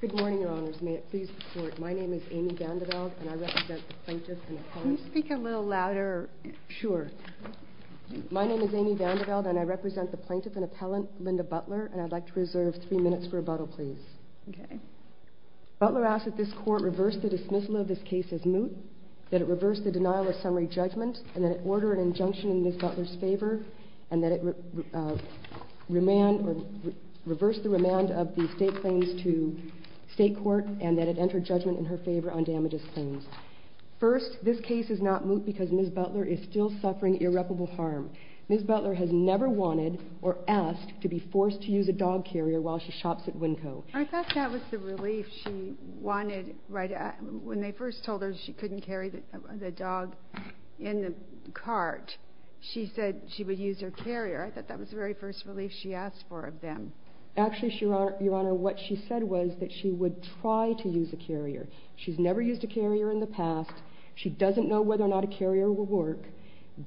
Good morning, Your Honors. May it please the Court, my name is Amy Vandeveld, and I represent the Plaintiff and Appellant Linda Butler, and I'd like to reserve three minutes for rebuttal, please. Butler asks that this Court reverse the dismissal of this case as moot, that it reverse the denial of summary judgment, and that it order an injunction in Ms. Butler's favor, and that it reverse the remand of the state claims to state court, and that it enter judgment in her favor on damages claims. First, this case is not moot because Ms. Butler is still suffering irreparable harm. Ms. Butler has never wanted or asked to be forced to use a dog carrier while she shops at Winco. I thought that was the relief she wanted. When they first told her she couldn't carry the dog in the cart, she said she would use her carrier. I thought that was the very first relief she asked for of them. Actually, Your Honor, what she said was that she would try to use a carrier. She's never used a carrier in the past. She doesn't know whether or not a carrier will work.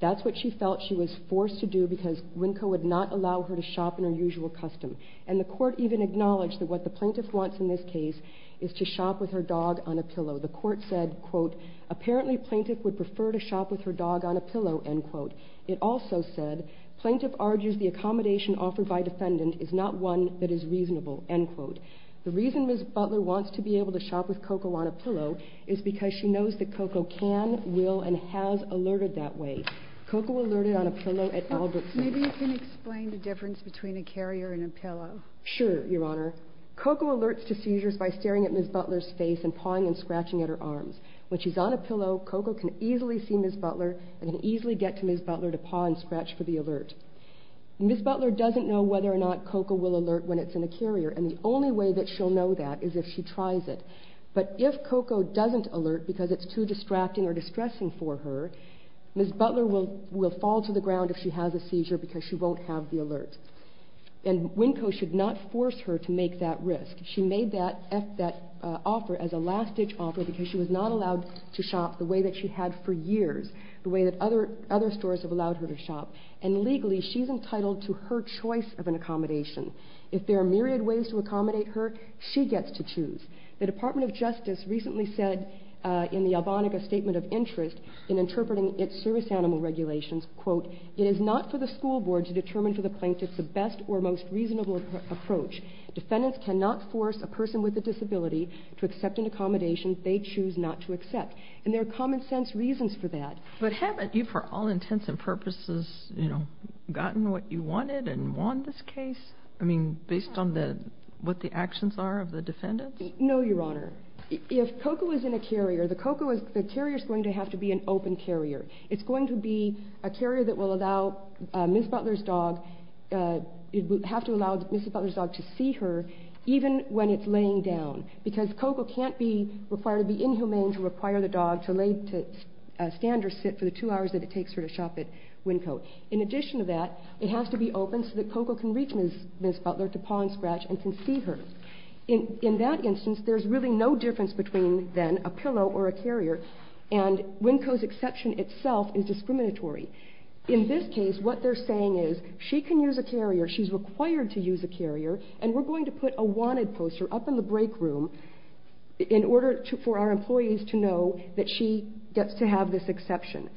That's what she felt she was forced to do because Winco would not allow her to shop in her usual custom. And the Court even acknowledged that what the Plaintiff wants in this case is to shop with her dog on a pillow. The Court said, quote, apparently Plaintiff would prefer to shop with her dog on a pillow, end quote. It also said Plaintiff argues the accommodation offered by defendant is not one that is reasonable, end quote. The reason Ms. Butler wants to be able to shop with Coco on a pillow is because she knows that Coco can, will, and has alerted that way. Coco alerted on a pillow at Albert Street. Maybe you can explain the difference between a carrier and a pillow. Sure, Your Honor, Coco alerts to seizures by staring at Ms. Butler's face and pawing and scratching at her arms. When she's on a pillow, Coco can easily see Ms. Butler and can easily get to Ms. Butler to paw and scratch for the alert. Ms. Butler doesn't know whether or not Coco will alert when it's in a carrier, and the only way that she'll know that is if she tries it. But if Coco doesn't alert because it's too distracting or distressing for her, Ms. Butler will fall to the ground if she has a seizure because she won't have the alert. And Winco should not force her to make that risk. She made that offer as a last-ditch offer because she was not allowed to shop the way that she had for years, the way that other stores have allowed her to shop. And legally, she's entitled to her choice of an accommodation. If there are myriad ways to accommodate her, she gets to choose. The Department of Justice recently said in the Albonica Statement of Interest in interpreting its service animal regulations, quote, it is not for the school board to determine for the plaintiff the best or most reasonable approach. Defendants cannot force a person with a disability to accept an accommodation they choose not to accept. And there are common-sense reasons for that. But haven't you, for all intents and purposes, you know, gotten what you wanted and won this case? I mean, based on what the actions are of the defendants? No, Your Honor. If Coco is in a carrier, the carrier is going to have to be an open carrier. It's going to be a carrier that will allow Ms. Butler's dog, have to allow Ms. Butler's dog to see her even when it's laying down. Because Coco can't be required to be inhumane to require the dog to lay to stand or sit for the two hours that it takes her to shop at Winco. In addition to that, it has to be open so that Coco can reach Ms. Butler to paw and scratch and can see her. In that instance, there's really no difference between then a pillow or a carrier. And Winco's exception itself is discriminatory. In this case, what they're saying is, she can use a carrier, she's required to use a carrier, and we're going to put a wanted poster up in the break room in order for our employees to know that she gets to have this exception.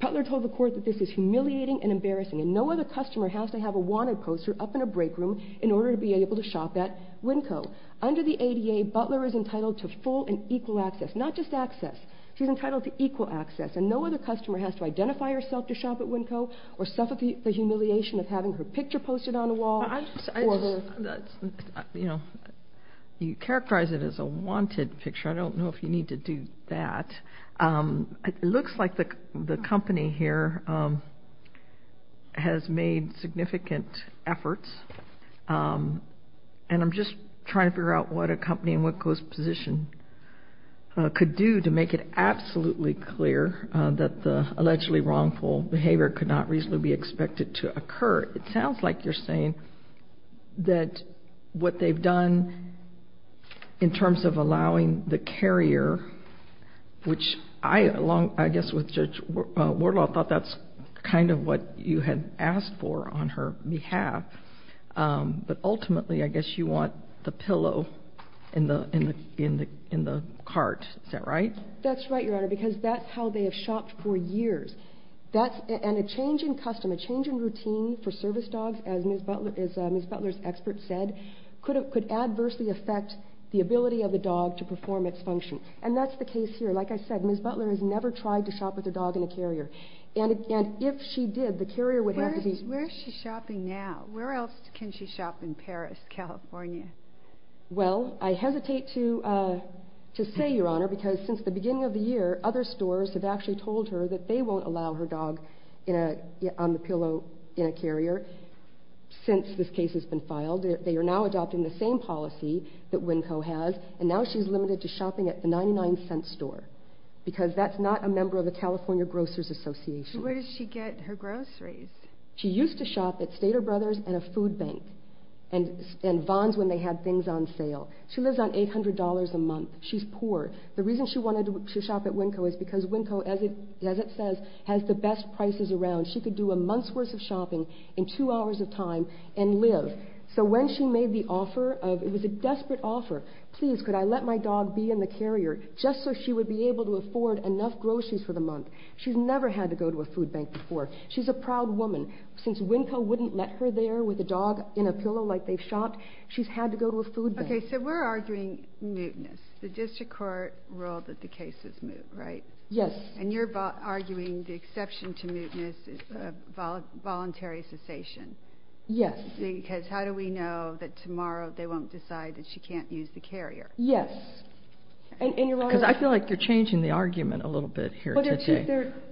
Butler told the court that this is humiliating and embarrassing and no other customer has to have a wanted poster up in a break room in order to be able to shop at Winco. Under the ADA, Butler is entitled to full and equal access, not just access. She's entitled to equal access and no other customer has to identify herself to shop at Winco or suffer the humiliation of having her picture posted on a wall. You characterize it as a wanted picture. I don't know if you need to do that. It looks like the company here has made significant efforts, and I'm just trying to figure out what a company in Winco's position could do to make it absolutely clear that the allegedly wrongful behavior could not reasonably be expected to occur. It sounds like you're saying that what they've done in terms of allowing the carrier, which I along, I guess, with Judge Wardlaw thought that's kind of what you had asked for on her behalf, but ultimately I guess you want the pillow in the cart. Is that right? That's right, Your Honor, because that's how they have shopped for years. And a change in custom, a change in routine for service dogs, as Ms. Butler's expert said, could adversely affect the ability of the dog to perform its function. And that's the case here. Like I said, Ms. Butler has never tried to shop with a dog in a carrier. And if she did, the carrier would have to be... Where is she shopping now? Where else can she shop in Paris, California? Well, I hesitate to say, Your Honor, because since the beginning of the year, other stores have actually told her that they won't allow her dog on the pillow in a carrier since this case has been filed. They are now adopting the same policy that Winco has, and now she's limited to shopping at the 99-Cent Store, because that's not a member of the California Grocers Association. Where does she get her groceries? She used to shop at Stater Brothers and a food bank, and Vons when they had things on sale. She lives on $800 a month. She's poor. The reason she wanted to shop at Winco is because Winco, as it says, has the best prices around. She could do a month's worth of shopping in two hours of time and live. So when she made the offer of... It was a desperate offer. Please, could I let my dog be in the carrier just so she would be able to afford enough groceries for the month? She's never had to go to a food bank before. She's a proud woman. Since Winco wouldn't let her there with a dog in a pillow like they've shopped, she's had to go to a food bank. Okay, so we're arguing mootness. The district court ruled that the case is moot, right? Yes. And you're arguing the exception to mootness is voluntary cessation. Yes. Because how do we know that tomorrow they won't decide that she can't use the carrier? Yes. Because I feel like you're changing the argument a little bit here today.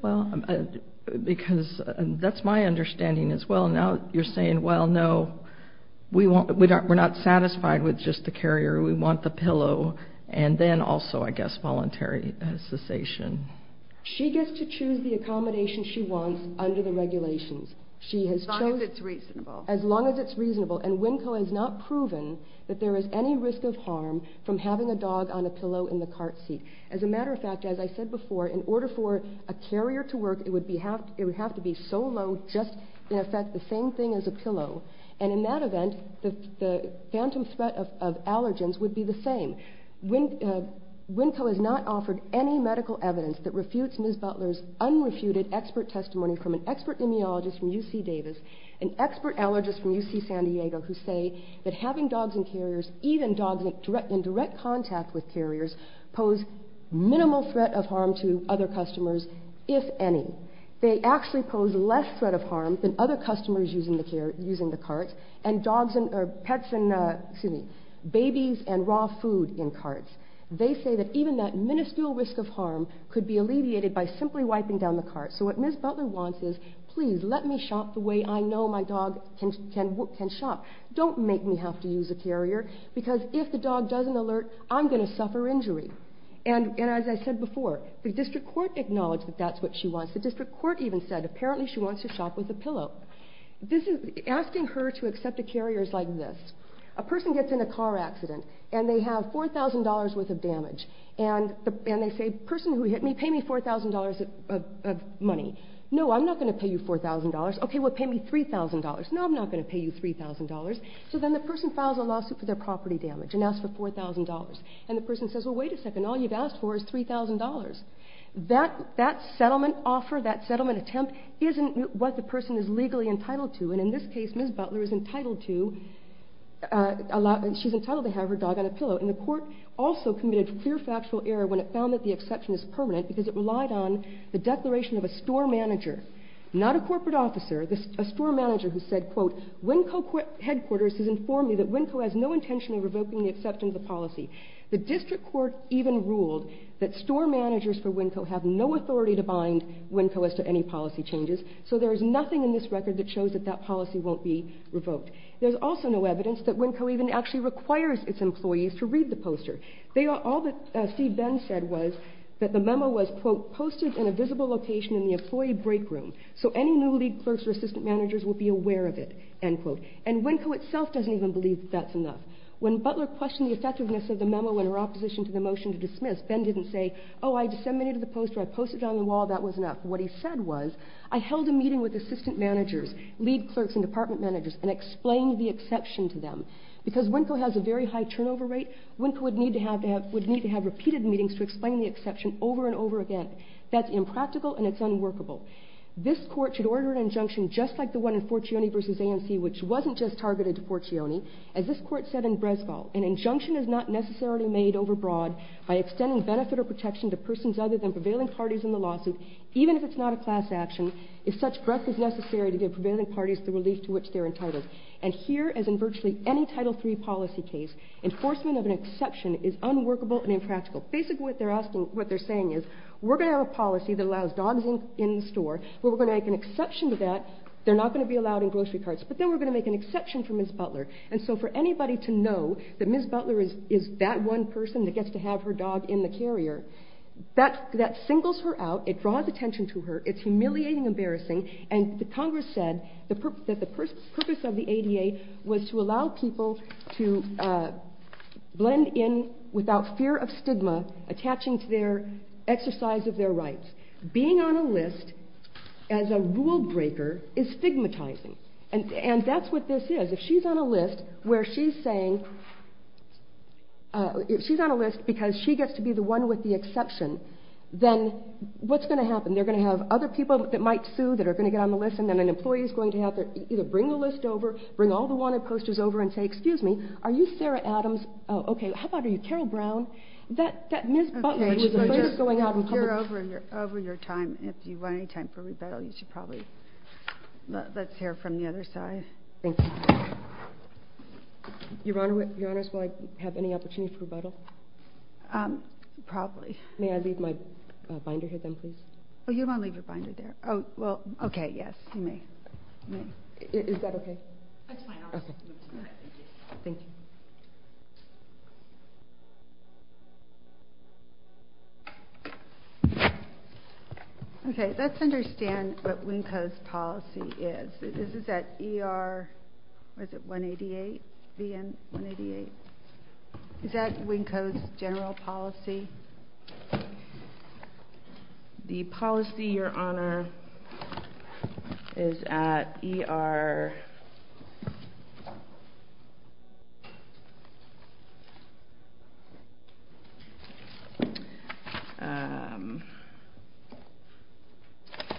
Well, there are two... Because that's my understanding as well. Now you're saying, well, no, we're not satisfied with just the carrier. We want the pillow and then also, I guess, voluntary cessation. She gets to choose the accommodation she wants under the regulations. As long as it's reasonable. As long as it's reasonable. And Winco has not proven that there is any risk of harm from having a dog on a pillow in the cart seat. As a matter of fact, as I said before, in order for a carrier to work, it would have to be solo, just, in effect, the same thing as a pillow. And in that event, the phantom threat of allergens would be the same. Winco has not offered any medical evidence that refutes Ms. Butler's unrefuted expert testimony from an expert immunologist from UC Davis, an expert allergist from UC San Diego, who say that having dogs in carriers, even dogs in direct contact with carriers, pose minimal threat of harm to other customers, if any. They actually pose less threat of harm than other customers using the carts, and pets and babies and raw food in carts. They say that even that miniscule risk of harm could be alleviated by simply wiping down the cart. So what Ms. Butler wants is, please, let me shop the way I know my dog can shop. Don't make me have to use a carrier, because if the dog doesn't alert, I'm going to suffer injury. And as I said before, the district court acknowledged that that's what she wants. The district court even said, apparently, she wants to shop with a pillow. Asking her to accept a carrier is like this. A person gets in a car accident, and they have $4,000 worth of damage. And they say, person who hit me, pay me $4,000 of money. No, I'm not going to pay you $4,000. Okay, well pay me $3,000. No, I'm not going to pay you $3,000. So then the person files a lawsuit for their property damage and asks for $4,000. And the person says, well, wait a second, all you've asked for is $3,000. That settlement offer, that settlement attempt, isn't what the person is legally entitled to. And in this case, Ms. Butler is entitled to have her dog on a pillow. And the court also committed clear factual error when it found that the exception is permanent, because it relied on the declaration of a store manager, not a corporate officer, a store manager who said, quote, WinCo headquarters has informed me that WinCo has no intention of revoking the exception of the policy. The district court even ruled that store managers for WinCo have no authority to bind WinCo as to any policy changes. So there is nothing in this record that shows that that policy won't be revoked. There's also no evidence that WinCo even actually requires its employees to read the poster. All that C. Ben said was that the memo was, quote, posted in a visible location in the employee break room, so any new lead clerks or assistant managers will be aware of it, end quote. And WinCo itself doesn't even believe that that's enough. When Butler questioned the effectiveness of the memo in her opposition to the motion to dismiss, Ben didn't say, oh, I disseminated the poster, I posted it on the wall, that was enough. What he said was, I held a meeting with assistant managers, lead clerks and department managers, and explained the exception to them. Because WinCo has a very high turnover rate, WinCo would need to have repeated meetings to explain the exception over and over again. That's impractical and it's unworkable. This court should order an injunction just like the one in Fortione v. A&C, which wasn't just targeted to Fortione. As this court said in Bresfall, an injunction is not necessarily made overbroad by extending benefit or protection to persons other than prevailing parties in the lawsuit, even if it's not a class action, if such breadth is necessary to give prevailing parties the relief to which they're entitled. And here, as in virtually any Title III policy case, enforcement of an exception is unworkable and impractical. Basically what they're saying is, we're going to have a policy that allows dogs in the store, we're going to make an exception to that, they're not going to be allowed in grocery carts, but then we're going to make an exception for Ms. Butler. And so for anybody to know that Ms. Butler is that one person that gets to have her dog in the carrier, that singles her out, it draws attention to her, it's humiliating and embarrassing, and Congress said that the purpose of the ADA was to allow people to blend in without fear of stigma, attaching to their exercise of their rights. Being on a list as a rule breaker is stigmatizing, and that's what this is. If she's on a list where she's saying, if she's on a list because she gets to be the one with the exception, then what's going to happen? They're going to have other people that might sue that are going to get on the list, and then an employee is going to have to either bring the list over, bring all the wanted posters over, and say, excuse me, are you Sarah Adams? Okay, how about are you Carol Brown? That Ms. Butler is the latest going out in public. You're over your time. If you want any time for rebuttal, you should probably let's hear from the other side. Thank you. Your Honor, is there any opportunity for rebuttal? Probably. May I leave my binder here then, please? Oh, you don't want to leave your binder there. Oh, well, okay, yes, you may. Is that okay? That's fine. Thank you. Okay, let's understand what WNCO's policy is. This is at ER, or is it 188? Is that WNCO's general policy? The policy, Your Honor, is at ER.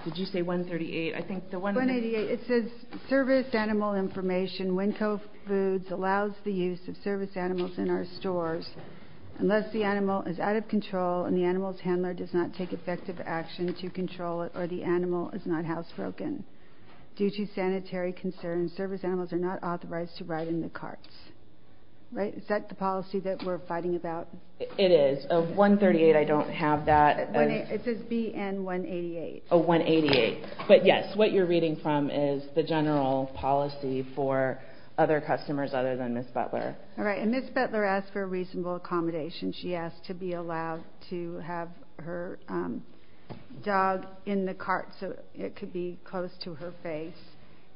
Did you say 138? It says, service animal information. WNCO foods allows the use of service animals in our stores unless the animal is out of control and the animal's handler does not take effective action to control it or the animal is not housebroken. Due to sanitary concerns, service animals are not authorized to ride in the carts. Is that the policy that we're fighting about? It is. 138, I don't have that. It says BN 188. Oh, 188. But, yes, what you're reading from is the general policy for other customers other than Ms. Butler. All right, and Ms. Butler asked for a reasonable accommodation. She asked to be allowed to have her dog in the cart so it could be close to her face,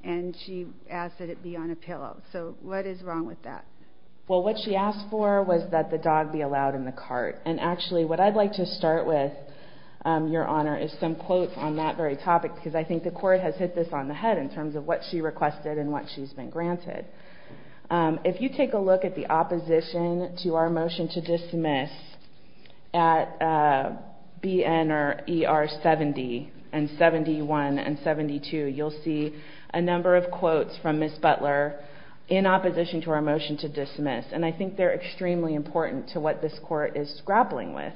and she asked that it be on a pillow. So what is wrong with that? Well, what she asked for was that the dog be allowed in the cart. And, actually, what I'd like to start with, Your Honor, is some quotes on that very topic because I think the court has hit this on the head in terms of what she requested and what she's been granted. If you take a look at the opposition to our motion to dismiss at BN or ER 70 and 71 and 72, you'll see a number of quotes from Ms. Butler in opposition to our motion to dismiss, and I think they're extremely important to what this court is grappling with.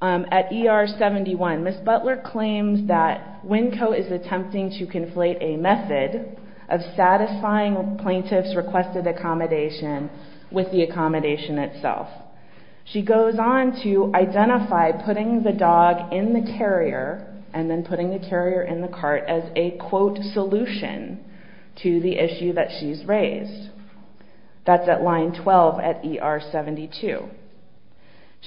At ER 71, Ms. Butler claims that WNCO is attempting to conflate a method of satisfying plaintiff's requested accommodation with the accommodation itself. She goes on to identify putting the dog in the carrier and then putting the carrier in the cart as a, quote, solution to the issue that she's raised. That's at line 12 at ER 72.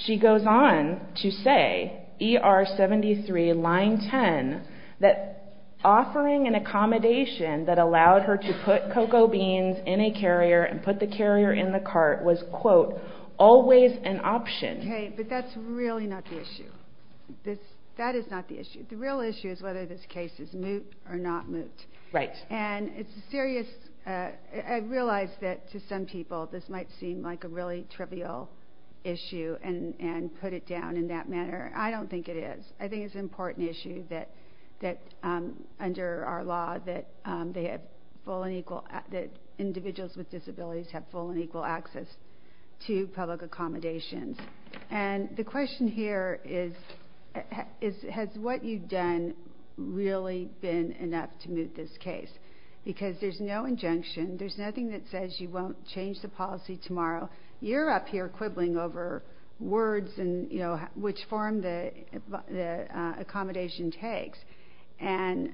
She goes on to say, ER 73, line 10, that offering an accommodation that allowed her to put Cocoa Beans in a carrier and put the carrier in the cart was, quote, always an option. Okay, but that's really not the issue. That is not the issue. The real issue is whether this case is moot or not moot. Right. And it's a serious, I realize that to some people this might seem like a really trivial issue and put it down in that manner. I don't think it is. I think it's an important issue that under our law that individuals with disabilities have full and equal access to public accommodations. And the question here is, has what you've done really been enough to moot this case? Because there's no injunction. There's nothing that says you won't change the policy tomorrow. You're up here quibbling over words and, you know, which form the accommodation takes. And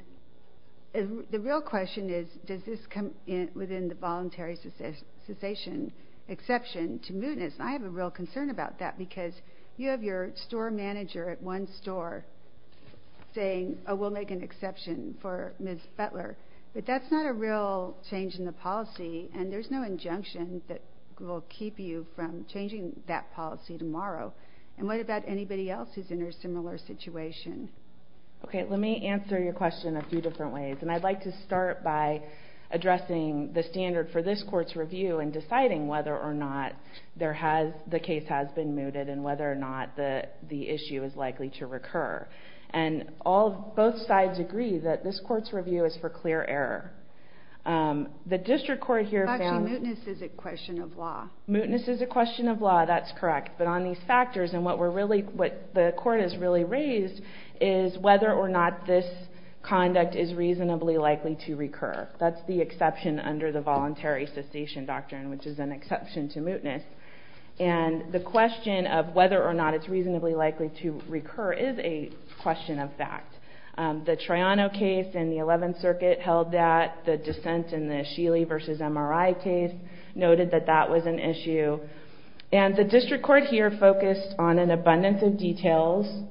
the real question is, does this come within the voluntary cessation exception to mootness? And I have a real concern about that because you have your store manager at one store saying, oh, we'll make an exception for Ms. Butler. But that's not a real change in the policy, and there's no injunction that will keep you from changing that policy tomorrow. And what about anybody else who's in a similar situation? Okay, let me answer your question a few different ways. And I'd like to start by addressing the standard for this court's review and deciding whether or not the case has been mooted and whether or not the issue is likely to recur. And both sides agree that this court's review is for clear error. The district court here found... Actually, mootness is a question of law. Mootness is a question of law, that's correct. But on these factors, and what the court has really raised is whether or not this conduct is reasonably likely to recur. That's the exception under the voluntary cessation doctrine, which is an exception to mootness. And the question of whether or not it's reasonably likely to recur is a question of fact. The Troiano case in the 11th Circuit held that. The dissent in the Sheely v. MRI case noted that that was an issue. And the district court here focused on an abundance of details,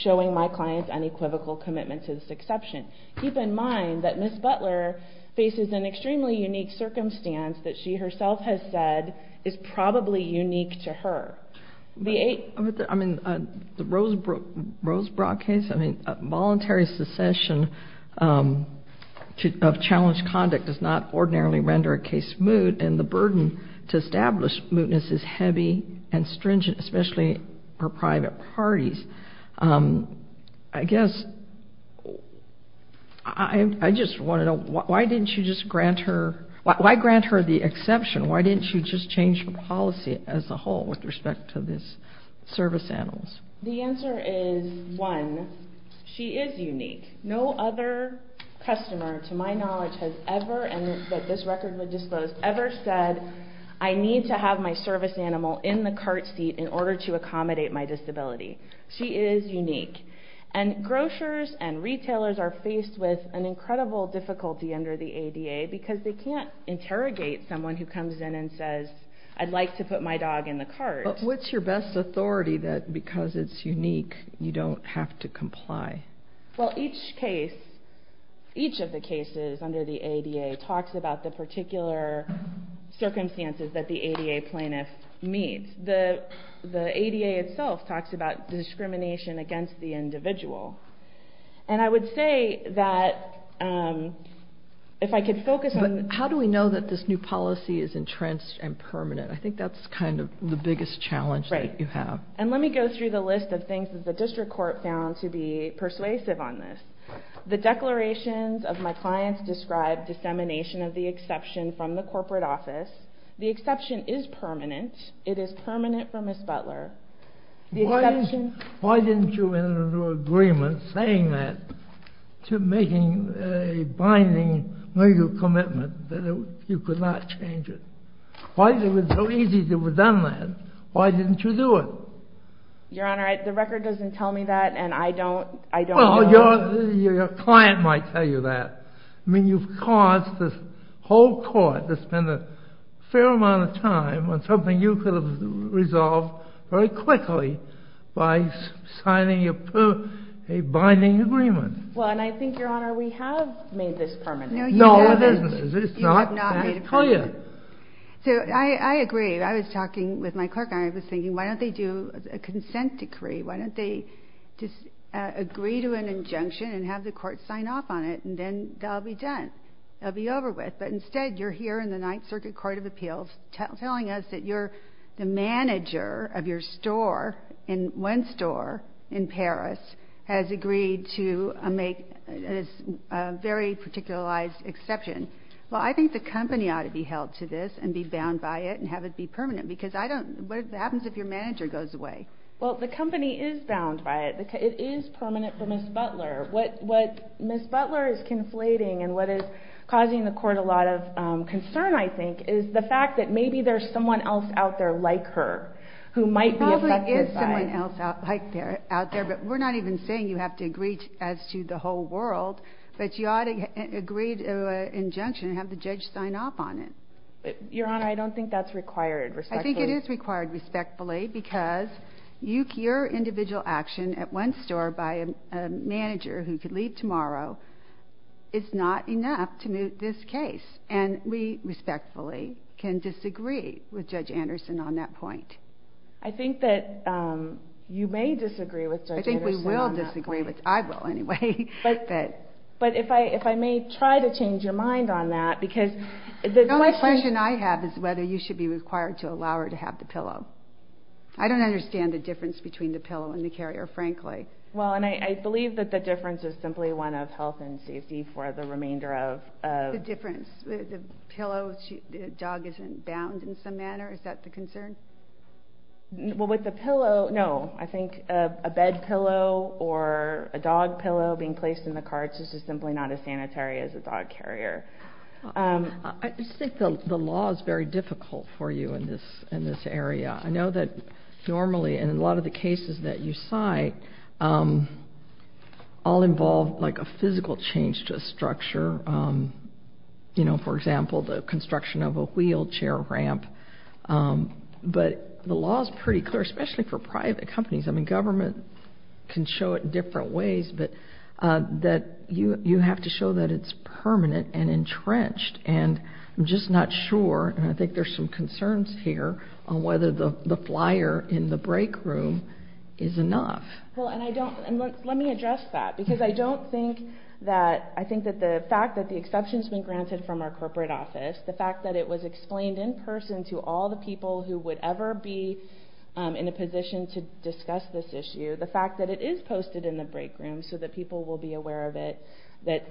showing my client's unequivocal commitment to this exception. Keep in mind that Ms. Butler faces an extremely unique circumstance that she herself has said is probably unique to her. The eight... I mean, the Rosebrook case, I mean, voluntary cessation of challenged conduct does not ordinarily render a case moot. And the burden to establish mootness is heavy and stringent, especially for private parties. I guess I just want to know, why didn't you just grant her... Why grant her the exception? Why didn't you just change her policy as a whole with respect to this service animal? The answer is, one, she is unique. No other customer, to my knowledge, has ever, and that this record would disclose, ever said, I need to have my service animal in the cart seat in order to accommodate my disability. She is unique. And grocers and retailers are faced with an incredible difficulty under the ADA because they can't interrogate someone who comes in and says, I'd like to put my dog in the cart. But what's your best authority that because it's unique, you don't have to comply? Well, each case, each of the cases under the ADA talks about the particular circumstances that the ADA plaintiff meets. The ADA itself talks about discrimination against the individual. And I would say that if I could focus on... But how do we know that this new policy is entrenched and permanent? I think that's kind of the biggest challenge that you have. And let me go through the list of things that the district court found to be persuasive on this. The declarations of my clients describe dissemination of the exception from the corporate office. The exception is permanent. It is permanent for Ms. Butler. Why didn't you enter into an agreement saying that to making a binding legal commitment that you could not change it? Why is it so easy to have done that? Why didn't you do it? Your Honor, the record doesn't tell me that, and I don't know... Well, your client might tell you that. I mean, you've caused this whole court to spend a fair amount of time on something you could have resolved very quickly by signing a binding agreement. Well, and I think, Your Honor, we have made this permanent. No, you haven't. It's not that clear. So I agree. I was talking with my clerk, and I was thinking, why don't they do a consent decree? Why don't they just agree to an injunction and have the court sign off on it, and then that will be done? That will be over with. But instead, you're here in the Ninth Circuit Court of Appeals telling us that you're the manager of your store, and one store in Paris has agreed to make this very particularized exception. Well, I think the company ought to be held to this and be bound by it and have it be permanent, because I don't... What happens if your manager goes away? Well, the company is bound by it. It is permanent for Ms. Butler. What Ms. Butler is conflating and what is causing the court a lot of concern, I think, is the fact that maybe there's someone else out there like her who might be affected by it. There probably is someone else out there, but we're not even saying you have to agree as to the whole world, but you ought to agree to an injunction and have the judge sign off on it. Your Honor, I don't think that's required respectfully. Because your individual action at one store by a manager who could leave tomorrow is not enough to moot this case, and we respectfully can disagree with Judge Anderson on that point. I think that you may disagree with Judge Anderson on that point. I think we will disagree. I will anyway. But if I may try to change your mind on that, because the question... is whether you should be required to allow her to have the pillow. I don't understand the difference between the pillow and the carrier, frankly. Well, and I believe that the difference is simply one of health and safety for the remainder of... The difference. The pillow, the dog isn't bound in some manner. Is that the concern? Well, with the pillow, no. I think a bed pillow or a dog pillow being placed in the carts is just simply not as sanitary as a dog carrier. I just think the law is very difficult for you in this area. I know that normally in a lot of the cases that you cite all involve like a physical change to a structure. You know, for example, the construction of a wheelchair ramp. But the law is pretty clear, especially for private companies. I mean, government can show it in different ways, but you have to show that it's permanent and entrenched. And I'm just not sure, and I think there's some concerns here, on whether the flyer in the break room is enough. Well, and I don't... Let me address that, because I don't think that... I think that the fact that the exception's been granted from our corporate office, the fact that it was explained in person to all the people who would ever be in a position to discuss this issue, the fact that it is posted in the break room so that people will be aware of it, that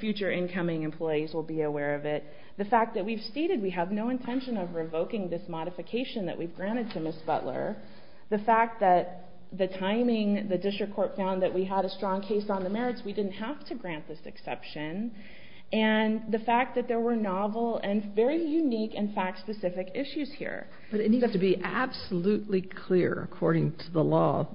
future incoming employees will be aware of it, the fact that we've stated we have no intention of revoking this modification that we've granted to Ms. Butler, the fact that the timing, the district court found that we had a strong case on the merits, we didn't have to grant this exception, and the fact that there were novel and very unique and fact-specific issues here. But it needs to be absolutely clear, according to the law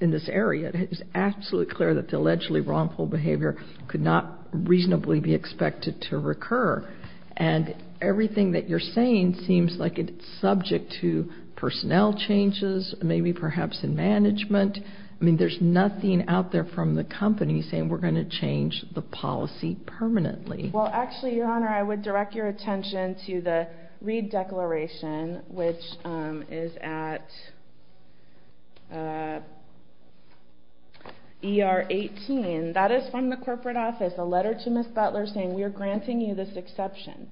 in this area, it is absolutely clear that the allegedly wrongful behavior could not reasonably be expected to recur. And everything that you're saying seems like it's subject to personnel changes, maybe perhaps in management. I mean, there's nothing out there from the company saying we're going to change the policy permanently. Well, actually, Your Honor, I would direct your attention to the Reid Declaration, which is at ER 18. That is from the corporate office, a letter to Ms. Butler saying we are granting you this exception.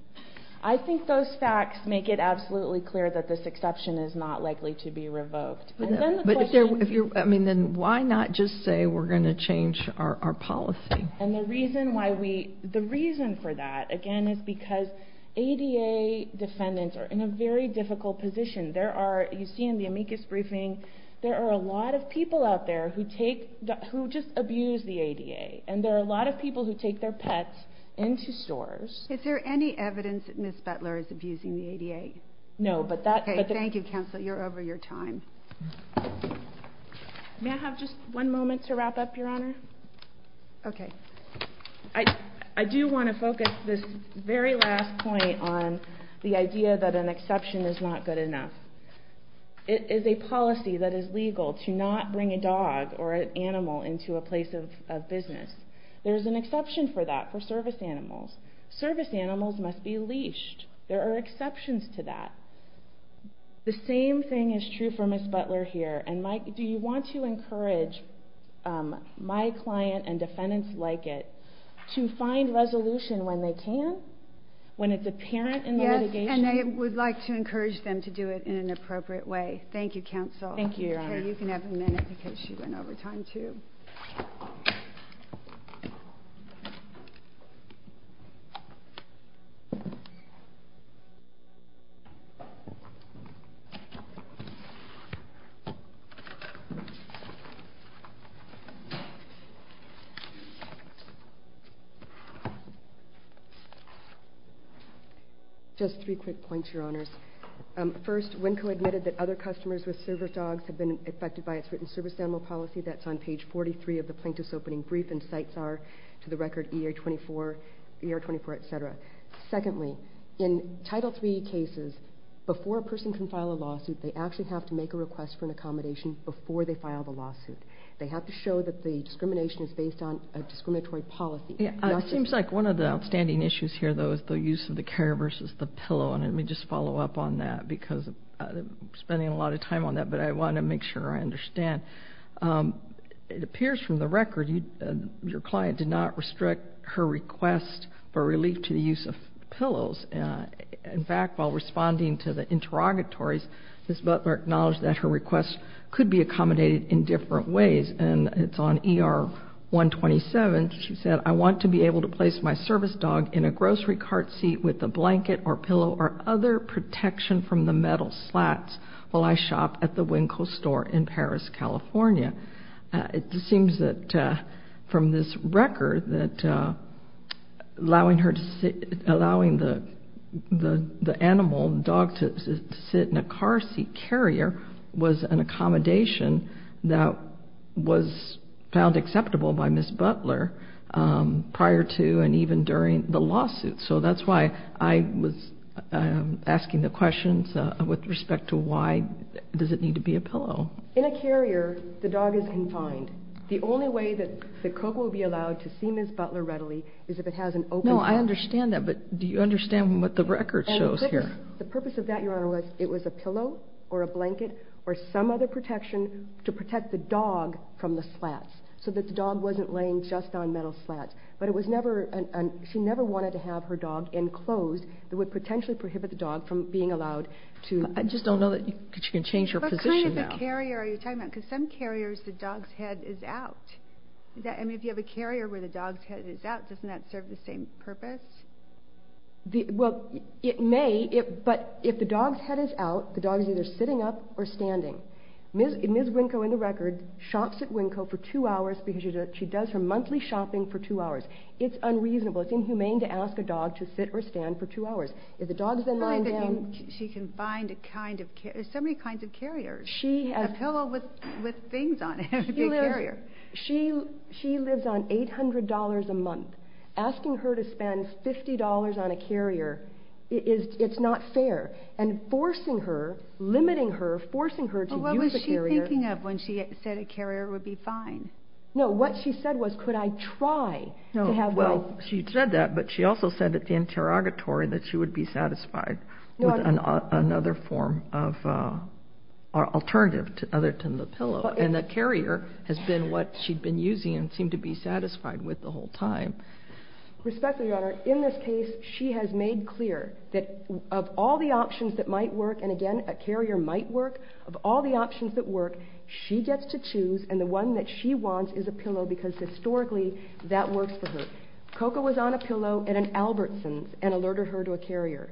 I think those facts make it absolutely clear that this exception is not likely to be revoked. Then why not just say we're going to change our policy? And the reason for that, again, is because ADA defendants are in a very difficult position. You see in the amicus briefing, there are a lot of people out there who just abuse the ADA, and there are a lot of people who take their pets into stores. Is there any evidence that Ms. Butler is abusing the ADA? No, but that... Okay, thank you, Counselor. You're over your time. May I have just one moment to wrap up, Your Honor? Okay. I do want to focus this very last point on the idea that an exception is not good enough. It is a policy that is legal to not bring a dog or an animal into a place of business. There is an exception for that for service animals. Service animals must be leashed. There are exceptions to that. The same thing is true for Ms. Butler here. Do you want to encourage my client and defendants like it to find resolution when they can, when it's apparent in the litigation? Yes, and I would like to encourage them to do it in an appropriate way. Thank you, Counsel. Thank you, Your Honor. Okay, you can have a minute because she went over time too. Just three quick points, Your Honors. First, WNCO admitted that other customers with service dogs have been affected by its written service animal policy. That's on page 43 of the plaintiff's opening brief, and cites are, to the record, ER-24, etc. Secondly, in Title III cases, before a person can file a lawsuit, they actually have to make a request for an accommodation before they file the lawsuit. They have to show that the discrimination is based on a discriminatory policy. It seems like one of the outstanding issues here, though, is the use of the care versus the pillow, and let me just follow up on that because I'm spending a lot of time on that, but I want to make sure I understand. It appears from the record your client did not restrict her request for relief to the use of pillows. In fact, while responding to the interrogatories, Ms. Butler acknowledged that her request could be accommodated in different ways, and it's on ER-127. She said, I want to be able to place my service dog in a grocery cart seat with a blanket or pillow or other protection from the metal slats while I shop at the Winco store in Paris, California. It seems that from this record that allowing the animal, the dog, to sit in a car seat carrier was an accommodation that was found acceptable by Ms. Butler prior to and even during the lawsuit, so that's why I was asking the questions with respect to why does it need to be a pillow. In a carrier, the dog is confined. The only way that the cook will be allowed to see Ms. Butler readily is if it has an open dog. No, I understand that, but do you understand what the record shows here? The purpose of that, Your Honor, was it was a pillow or a blanket or some other protection to protect the dog from the slats so that the dog wasn't laying just on metal slats, but it was never, she never wanted to have her dog enclosed that would potentially prohibit the dog from being allowed to... I just don't know that you can change your position now. What kind of a carrier are you talking about? Because some carriers the dog's head is out. I mean, if you have a carrier where the dog's head is out, doesn't that serve the same purpose? Well, it may, but if the dog's head is out, the dog is either sitting up or standing. Ms. Winco, in the record, shops at Winco for two hours because she does her monthly shopping for two hours. It's unreasonable. It's inhumane to ask a dog to sit or stand for two hours. If the dog's been lying down... It's funny that she can find so many kinds of carriers. A pillow with things on it would be a carrier. She lives on $800 a month. Asking her to spend $50 on a carrier, it's not fair. And forcing her, limiting her, forcing her to use a carrier... What was she thinking of when she said a carrier would be fine? No, what she said was, could I try to have my... Well, she said that, but she also said at the interrogatory that she would be satisfied with another form of alternative other than the pillow. And the carrier has been what she'd been using and seemed to be satisfied with the whole time. Respectfully, Your Honor, in this case, she has made clear that of all the options that might work, and again, a carrier might work, of all the options that work, she gets to choose and the one that she wants is a pillow because historically, that works for her. Coco was on a pillow at an Albertson's and alerted her to a carrier.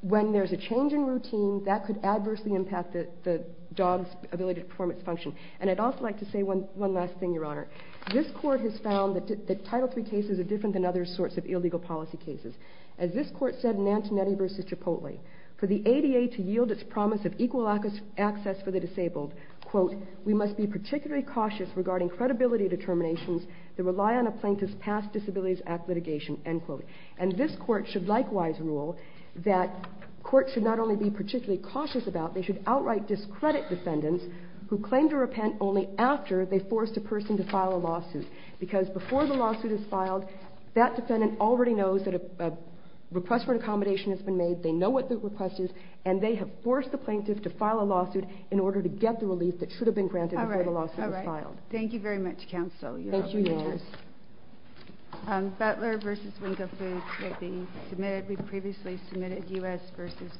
When there's a change in routine, that could adversely impact the dog's ability to perform its function. And I'd also like to say one last thing, Your Honor. This court has found that Title III cases are different than other sorts of illegal policy cases. As this court said in Antonetti v. Chipotle, for the ADA to yield its promise of equal access for the disabled, quote, we must be particularly cautious regarding credibility determinations that rely on a plaintiff's past disabilities act litigation, end quote. And this court should likewise rule that courts should not only be particularly cautious about, they should outright discredit defendants who claim to repent only after they forced a person to file a lawsuit. Because before the lawsuit is filed, that defendant already knows that a request for an accommodation has been made, they know what the request is, and they have forced the plaintiff to file a lawsuit in order to get the relief that should have been granted before the lawsuit was filed. All right. All right. Thank you very much, Counsel. Thank you, Your Honor. Butler v. Winkle Foods may be submitted. We've previously submitted U.S. v. Butler.